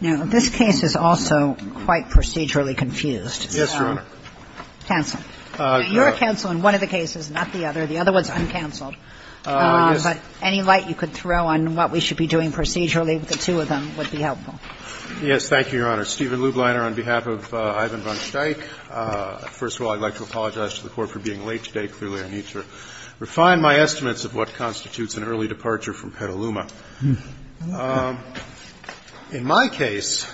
Now, this case is also quite procedurally confused, so counsel, you're a counsel in one of the cases, not the other, the other one's uncounseled, but any light you could throw on what we should be doing procedurally with the two of them would be helpful. Yes, thank you, Your Honor. Steven Lubliner on behalf of Ivan von Steich. First of all, I'd like to apologize to the Court for being late today. Clearly, I need to refine my estimates of what constitutes an early departure from Petaluma. In my case,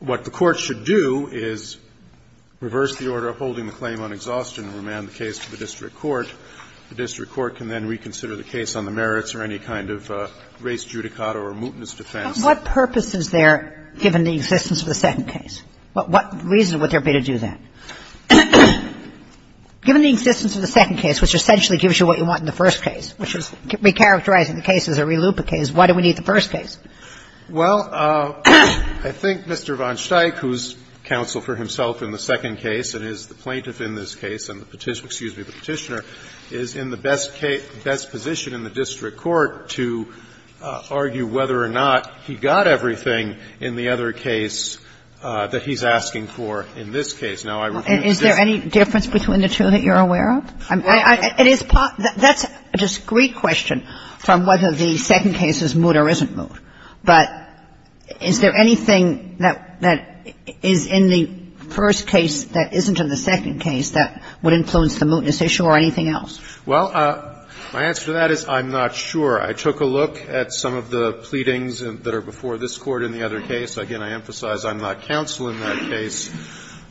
what the Court should do is reverse the order of holding the claim on exhaustion and remand the case to the district court. The district court can then reconsider the case on the merits or any kind of race judicata or mutinous defense. But what purpose is there, given the existence of the second case? What reason would there be to do that? Given the existence of the second case, which essentially gives you what you want in the first case, which is recharacterizing the case as a relooping case, why do we need the first case? Well, I think Mr. von Steich, who's counsel for himself in the second case and is the plaintiff in this case and the Petitioner, excuse me, the Petitioner, is in the best position in the district court to argue whether or not he got everything in the other case that he's asking for in this case. Now, I refuse to disagree. Is there any difference between the two that you're aware of? It is part of the question. That's a discrete question from whether the second case is moot or isn't moot. But is there anything that is in the first case that isn't in the second case that would influence the mootness issue or anything else? Well, my answer to that is I'm not sure. I took a look at some of the pleadings that are before this Court in the other case. Again, I emphasize I'm not counsel in that case.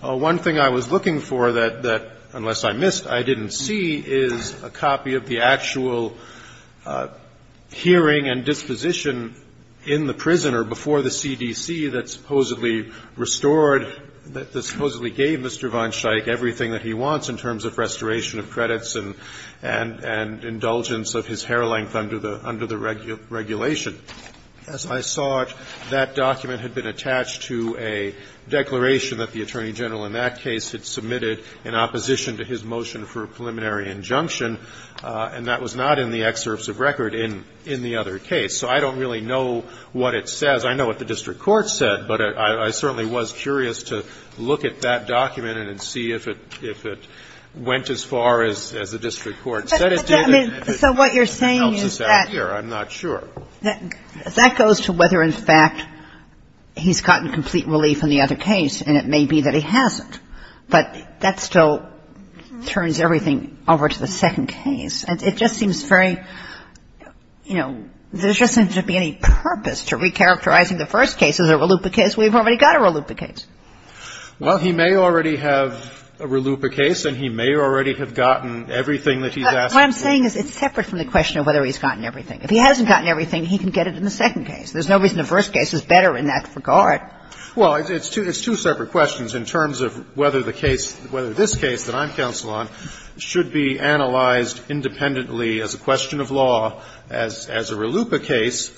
One thing I was looking for that, unless I missed, I didn't see, is a copy of the actual hearing and disposition in the prison or before the CDC that supposedly restored, that supposedly gave Mr. von Steich everything that he wants in terms of restoration of credits and indulgence of his hair length under the regulation. As I saw it, that document had been attached to a declaration that the Attorney General in that case had submitted in opposition to his motion for a preliminary injunction, and that was not in the excerpts of record in the other case. So I don't really know what it says. I know what the district court said, but I certainly was curious to look at that document and see if it went as far as the district court said it did. So what you're saying is that goes to whether, in fact, he's gotten complete relief in the other case, and it may be that he hasn't. But that still turns everything over to the second case. It just seems very, you know, there just doesn't seem to be any purpose to recharacterizing the first case as a RLUIPA case. We've already got a RLUIPA case. Well, he may already have a RLUIPA case, and he may already have gotten everything that he's asked for. What I'm saying is it's separate from the question of whether he's gotten everything. If he hasn't gotten everything, he can get it in the second case. There's no reason the first case is better in that regard. Well, it's two separate questions in terms of whether the case, whether this case that I'm counsel on should be analyzed independently as a question of law as a RLUIPA case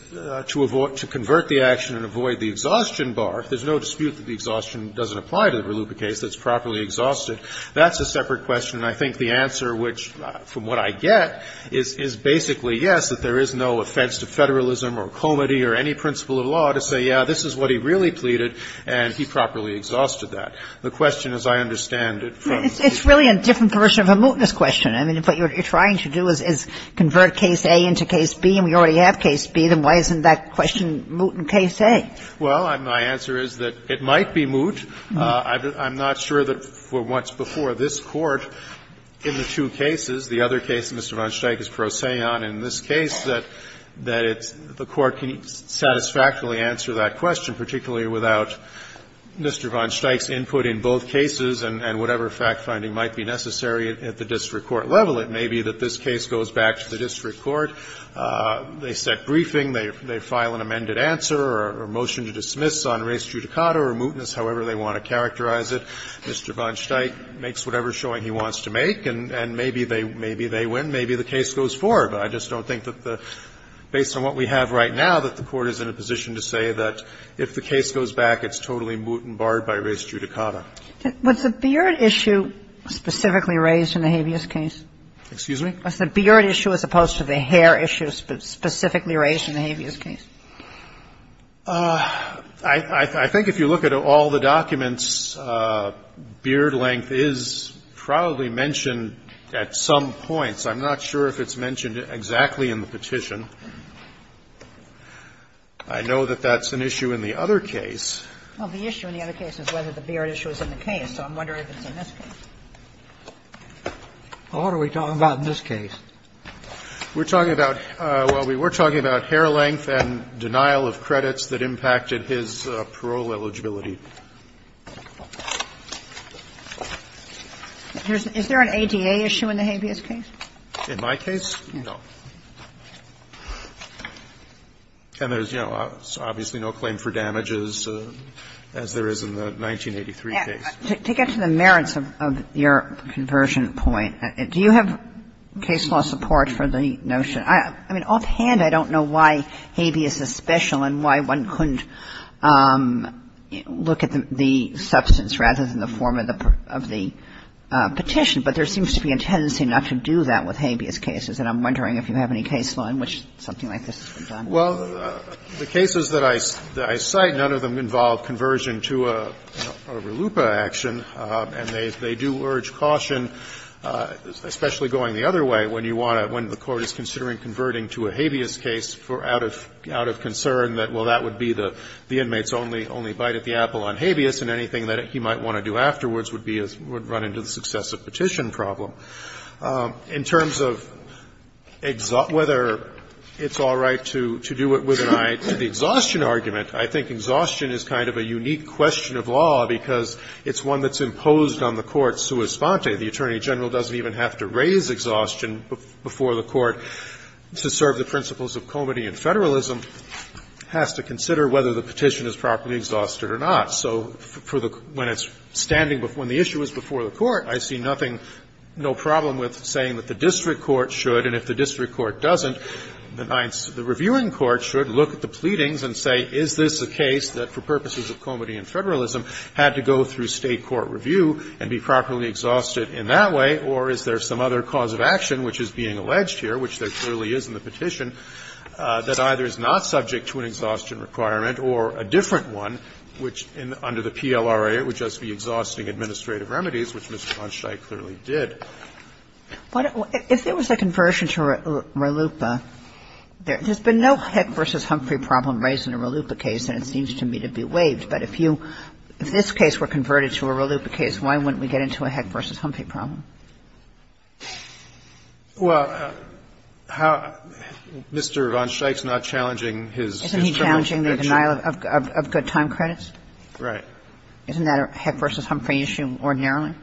to avoid to convert the action and avoid the exhaustion bar. If there's no dispute that the exhaustion doesn't apply to the RLUIPA case that's properly exhausted, that's a separate question. And I think the answer, which, from what I get, is basically yes, that there is no offense to federalism or comity or any principle of law to say, yeah, this is what he really pleaded, and he properly exhausted that. The question, as I understand it, from the case of RLUIPA. It's really a different version of a mootness question. I mean, if what you're trying to do is convert case A into case B, and we already have case B, then why isn't that question moot in case A? Well, my answer is that it might be moot. I'm not sure that, for what's before this Court, in the two cases, the other case, Mr. von Steich, is prosaic in this case, that it's the Court can satisfactorily answer that question, particularly without Mr. von Steich's input in both cases and whatever fact-finding might be necessary at the district court level. It may be that this case goes back to the district court. They set briefing, they file an amended answer or a motion to dismiss on res judicata or mootness, however they want to characterize it. Mr. von Steich makes whatever showing he wants to make, and maybe they win. Maybe the case goes forward. But I just don't think that the – based on what we have right now, that the Court is in a position to say that if the case goes back, it's totally moot and barred by res judicata. What's the beard issue specifically raised in the habeas case? Excuse me? What's the beard issue as opposed to the hair issue specifically raised in the habeas case? I think if you look at all the documents, beard length is probably mentioned at some points. I'm not sure if it's mentioned exactly in the petition. I know that that's an issue in the other case. Well, the issue in the other case is whether the beard issue is in the case. So I'm wondering if it's in this case. What are we talking about in this case? We're talking about – well, we were talking about hair length and denial of credits that impacted his parole eligibility. Is there an ADA issue in the habeas case? In my case, no. And there's, you know, obviously no claim for damages as there is in the 1983 case. To get to the merits of your conversion point, do you have case law support for the notion? I mean, offhand, I don't know why habeas is special and why one couldn't look at the substance rather than the form of the petition. But there seems to be a tendency not to do that with habeas cases. And I'm wondering if you have any case law in which something like this is done. Well, the cases that I cite, none of them involve conversion to a, you know, part of a LUPA action, and they do urge caution, especially going the other way, when you want to – when the Court is considering converting to a habeas case out of concern that, well, that would be the inmate's only bite at the apple on habeas, and anything that he might want to do afterwards would be a – would run into the successive petition problem. In terms of whether it's all right to do it with an eye to the exhaustion argument, I think exhaustion is kind of a unique question of law, because it's one that's imposed on the Court sua sponte. The Attorney General doesn't even have to raise exhaustion before the Court to serve the principles of comity and federalism. It has to consider whether the petition is properly exhausted or not. So for the – when it's standing – when the issue is before the Court, I see nothing – no problem with saying that the district court should, and if the district court doesn't, the reviewing court should look at the pleadings and say, is this a case that, for purposes of comity and federalism, had to go through State court review and be properly exhausted in that way, or is there some other cause of action which is being alleged here, which there clearly is in the petition, that either is not subject to an exhaustion requirement or a different one which, under the PLRA, would just be exhausting administrative remedies, which Mr. von Scheich clearly did. But if there was a conversion to RLUIPA, there's been no Heck v. Humphrey problem raised in a RLUIPA case, and it seems to me to be waived. But if you – if this case were converted to a RLUIPA case, why wouldn't we get into a Heck v. Humphrey problem? Well, how – Mr. von Scheich is not challenging his federal action. Isn't he challenging the denial of good time credits? Right. Isn't that a Heck v. Humphrey issue ordinarily?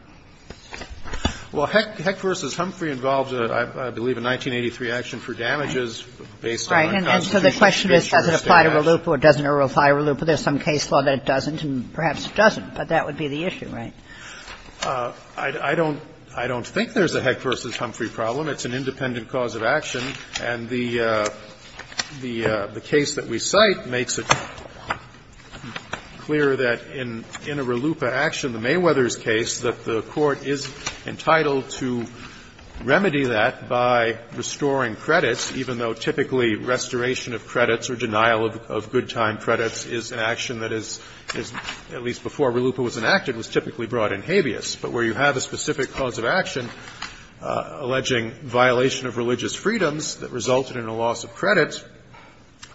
Well, Heck v. Humphrey involves, I believe, a 1983 action for damages based on a constitutional condition. And so the question is, does it apply to RLUIPA or doesn't it apply to RLUIPA? There's some case law that it doesn't, and perhaps it doesn't, but that would be the issue, right? I don't – I don't think there's a Heck v. Humphrey problem. It's an independent cause of action. And the case that we cite makes it clear that in a RLUIPA action, the Mayweather's case, that the Court is entitled to remedy that by restoring credits, even though typically restoration of credits or denial of good time credits is an action that is, at least before RLUIPA was enacted, was typically brought in habeas. But where you have a specific cause of action alleging violation of religious freedoms that resulted in a loss of credit,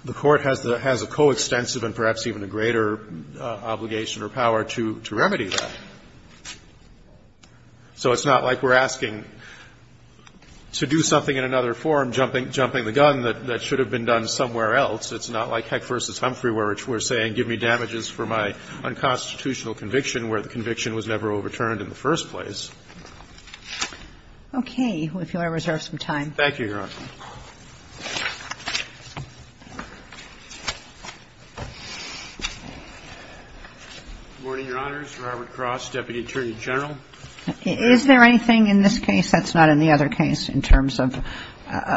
the Court has the – has a coextensive and perhaps even a greater obligation or power to remedy that. So it's not like we're asking to do something in another forum, jumping the gun, that should have been done somewhere else. It's not like Heck v. Humphrey, where we're saying, give me damages for my unconstitutional conviction, where the conviction was never overturned in the first place. Okay. If you want to reserve some time. Thank you, Your Honor. Good morning, Your Honors. Robert Cross, Deputy Attorney General. Is there anything in this case that's not in the other case in terms of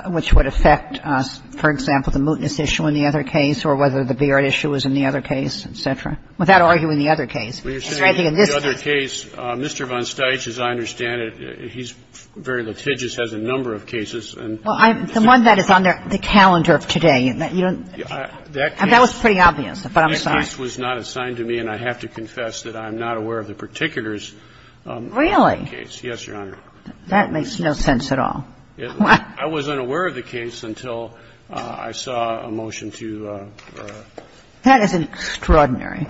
which would affect us, for example, the mootness issue in the other case or whether the beard issue was in the other case, et cetera, without arguing the other case? Mr. Von Steich, as I understand it, he's very litigious, has a number of cases. Well, the one that is on the calendar of today. That was pretty obvious, but I'm sorry. That case was not assigned to me, and I have to confess that I'm not aware of the particulars of that case. Really? Yes, Your Honor. That makes no sense at all. I wasn't aware of the case until I saw a motion to do that. That is extraordinary.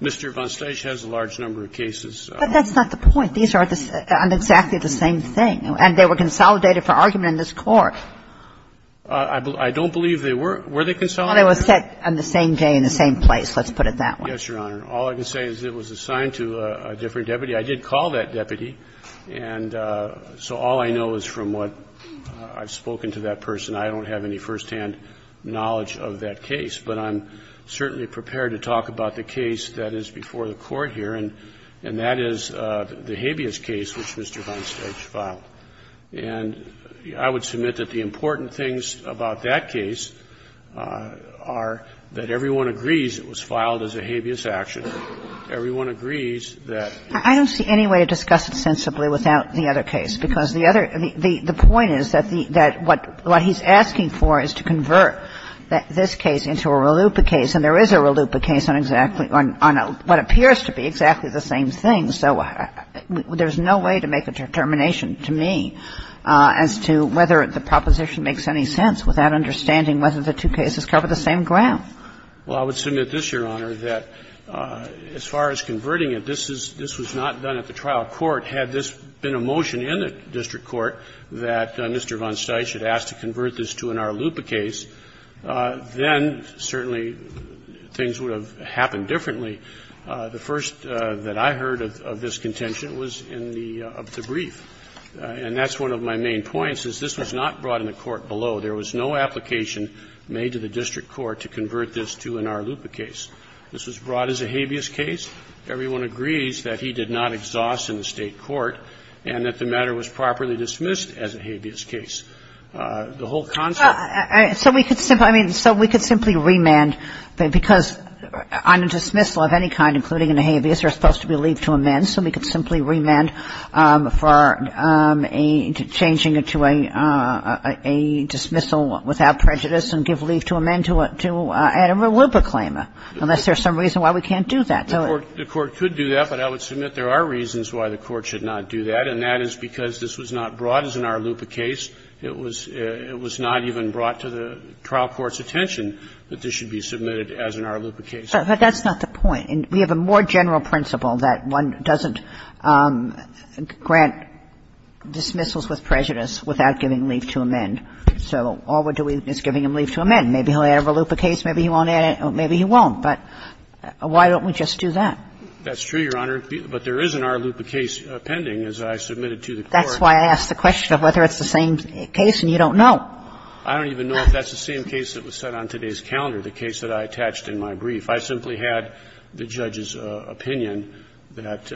Mr. Von Steich has a large number of cases. But that's not the point. These are exactly the same thing, and they were consolidated for argument in this court. I don't believe they were. Were they consolidated? They were set on the same day in the same place, let's put it that way. Yes, Your Honor. All I can say is it was assigned to a different deputy. I did call that deputy, and so all I know is from what I've spoken to that person, I don't have any firsthand knowledge of that case. But I'm certainly prepared to talk about the case that is before the Court here, and that is the habeas case which Mr. Von Steich filed. And I would submit that the important things about that case are that everyone agrees it was filed as a habeas action. I don't see any way to discuss it sensibly without the other case, because the other the point is that what he's asking for is to convert this case into a Rallupa case, and there is a Rallupa case on exactly on what appears to be exactly the same thing. So there's no way to make a determination to me as to whether the proposition makes any sense without understanding whether the two cases cover the same ground. Well, I would submit this, Your Honor, that as far as converting it, this is this was not done at the trial court. Had this been a motion in the district court that Mr. Von Steich had asked to convert this to an Rallupa case, then certainly things would have happened differently. The first that I heard of this contention was in the brief, and that's one of my main points, is this was not brought in the court below. There was no application made to the district court to convert this to an Rallupa case. This was brought as a habeas case. Everyone agrees that he did not exhaust in the state court and that the matter was properly dismissed as a habeas case. The whole concept of the case. So we could simply, I mean, so we could simply remand because on a dismissal of any kind, including a habeas, there is supposed to be leave to amend, so we could simply remand for a changing it to a dismissal without prejudice and give leave to amend to add a Rallupa claim, unless there's some reason why we can't do that. So it's not a case that should be submitted as an Rallupa case. But that's not the point. We have a more general principle that one doesn't grant dismissals with prejudice without giving leave to amend. Maybe he'll have a Rallupa case, maybe he won't, but why don't we just do that? That's true, Your Honor, but there is an Rallupa case pending, as I submitted to the court. That's why I asked the question of whether it's the same case and you don't know. I don't even know if that's the same case that was set on today's calendar, the case that I attached in my brief. I simply had the judge's opinion that,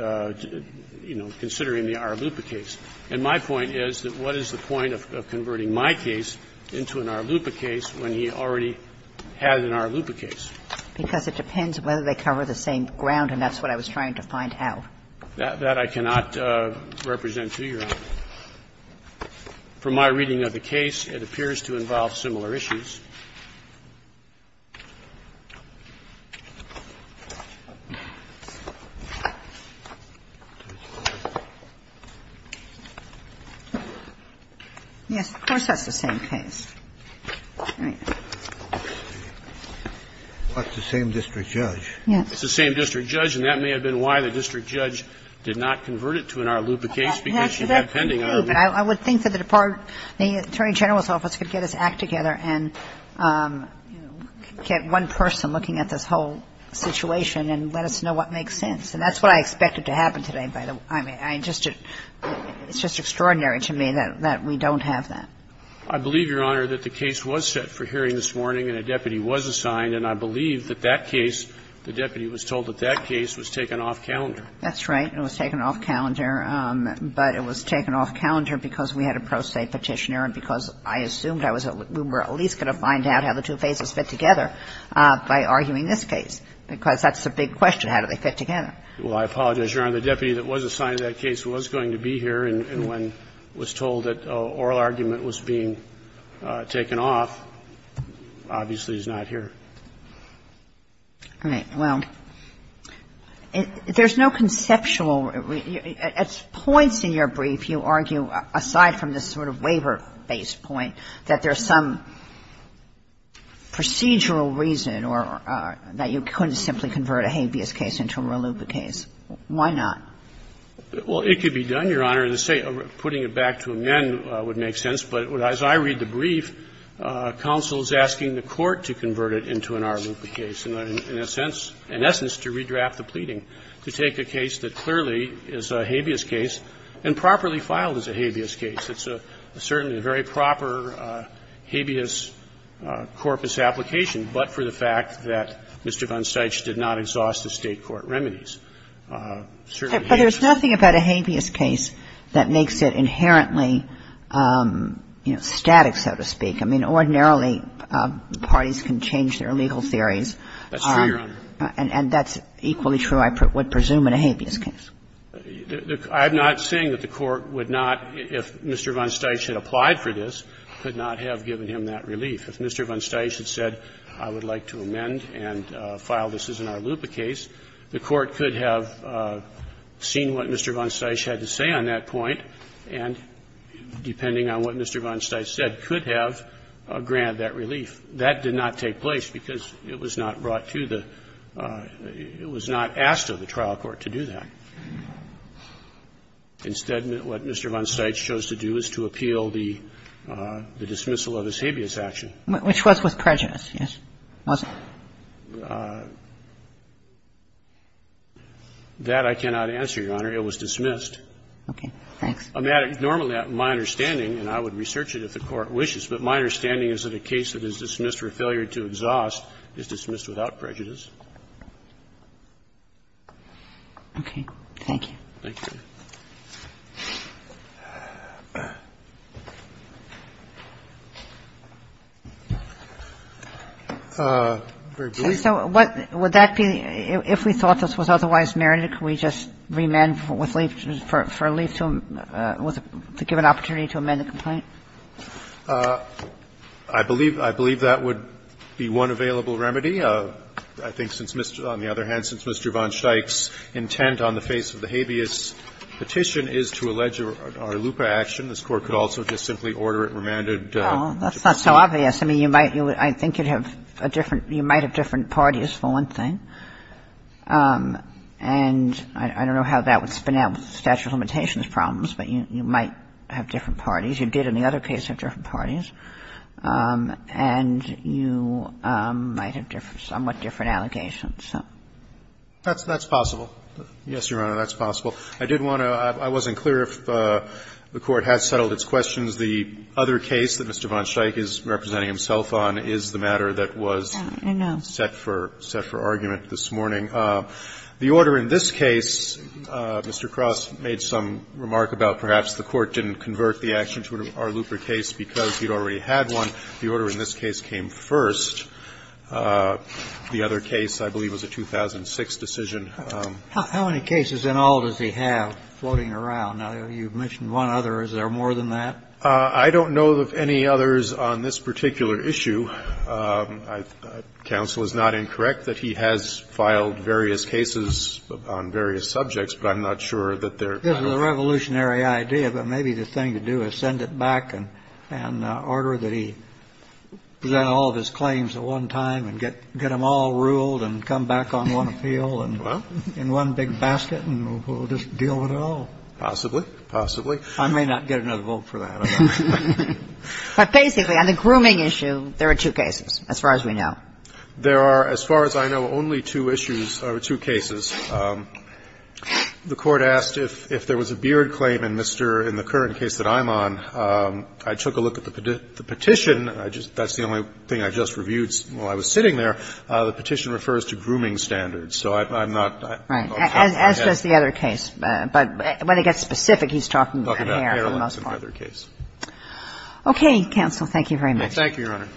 you know, considering the Rallupa case. And my point is that what is the point of converting my case into an Rallupa case when he already had an Rallupa case? Because it depends whether they cover the same ground, and that's what I was trying to find out. From my reading of the case, it appears to involve similar issues. Yes, of course that's the same case. All right. But it's the same district judge. Yes. It's the same district judge, and that may have been why the district judge did not I would think that the Department of the Attorney General's office could get this act together and, you know, get one person looking at this whole situation and let us know what makes sense. And that's what I expected to happen today, by the way. I just didn't It's just extraordinary to me that we don't have that. I believe, Your Honor, that the case was set for hearing this morning and a deputy was assigned, and I believe that that case, the deputy was told that that case was taken off calendar. That's right. It was taken off calendar, but it was taken off calendar because we had a pro se Petitioner and because I assumed I was at least going to find out how the two cases fit together by arguing this case, because that's a big question. How do they fit together? Well, I apologize, Your Honor. The deputy that was assigned to that case was going to be here, and when was told that an oral argument was being taken off, obviously he's not here. All right. Well, there's no conceptual reason. At points in your brief, you argue, aside from this sort of waiver-based point, that there's some procedural reason or that you couldn't simply convert a habeas case into a reluctant case. Why not? Well, it could be done, Your Honor. Putting it back to amend would make sense, but as I read the brief, counsel is asking the Court to convert it into an r-lupa case, in a sense, in essence, to redraft the pleading, to take a case that clearly is a habeas case and properly file it as a habeas case. It's certainly a very proper habeas corpus application, but for the fact that Mr. Gonstein did not exhaust the State court remedies. But there's nothing about a habeas case that makes it inherently, you know, static, so to speak. I mean, ordinarily, parties can change their legal theories. That's true, Your Honor. And that's equally true, I would presume, in a habeas case. I'm not saying that the Court would not, if Mr. von Steich had applied for this, could not have given him that relief. If Mr. von Steich had said, I would like to amend and file this as an r-lupa case, the Court could have seen what Mr. von Steich had to say on that point, and depending on what Mr. von Steich said, could have granted that relief. That did not take place because it was not brought to the – it was not asked of the trial court to do that. Instead, what Mr. von Steich chose to do is to appeal the dismissal of his habeas action. Which was with prejudice, yes? That, I cannot answer, Your Honor. It was dismissed. Okay. Thanks. Normally, my understanding, and I would research it if the Court wishes, but my understanding is that a case that is dismissed for failure to exhaust is dismissed without prejudice. Okay. Thank you. Thank you, Your Honor. Very briefly. So what – would that be – if we thought this was otherwise merited, could we just amend with – for relief to give an opportunity to amend the complaint? I believe that would be one available remedy. I think since, on the other hand, since Mr. von Steich's intent on the face of the habeas petition is to allege a r-lupa action, this Court could also just simply order it remanded to proceed. Well, that's not so obvious. I mean, you might – I think you'd have a different – you might have different parties, for one thing. And I don't know how that would spin out with the statute of limitations problems, but you might have different parties. You did in the other case have different parties. And you might have somewhat different allegations. That's possible. Yes, Your Honor, that's possible. I didn't want to – I wasn't clear if the Court has settled its questions. The other case that Mr. von Steich is representing himself on is the matter that was set for argument. This morning, the order in this case, Mr. Cross made some remark about perhaps the Court didn't convert the action to an r-lupa case because he'd already had one. The order in this case came first. The other case, I believe, was a 2006 decision. How many cases in all does he have floating around? Now, you've mentioned one other. Is there more than that? I don't know of any others on this particular issue. Counsel is not incorrect that he has filed various cases on various subjects, but I'm not sure that they're kind of the same. It's a revolutionary idea, but maybe the thing to do is send it back and order that he present all of his claims at one time and get them all ruled and come back on one appeal and in one big basket and we'll just deal with it all. Possibly. Possibly. I may not get another vote for that. But basically, on the grooming issue, there are two cases, as far as we know. There are, as far as I know, only two issues or two cases. The Court asked if there was a beard claim, and, Mr. In the current case that I'm on, I took a look at the petition. That's the only thing I just reviewed while I was sitting there. The petition refers to grooming standards, so I'm not. Right. As does the other case. But when it gets specific, he's talking about hair for the most part. So I'm not going to go into the details of that particular case. Okay, counsel. Thank you very much. Thank you, Your Honor.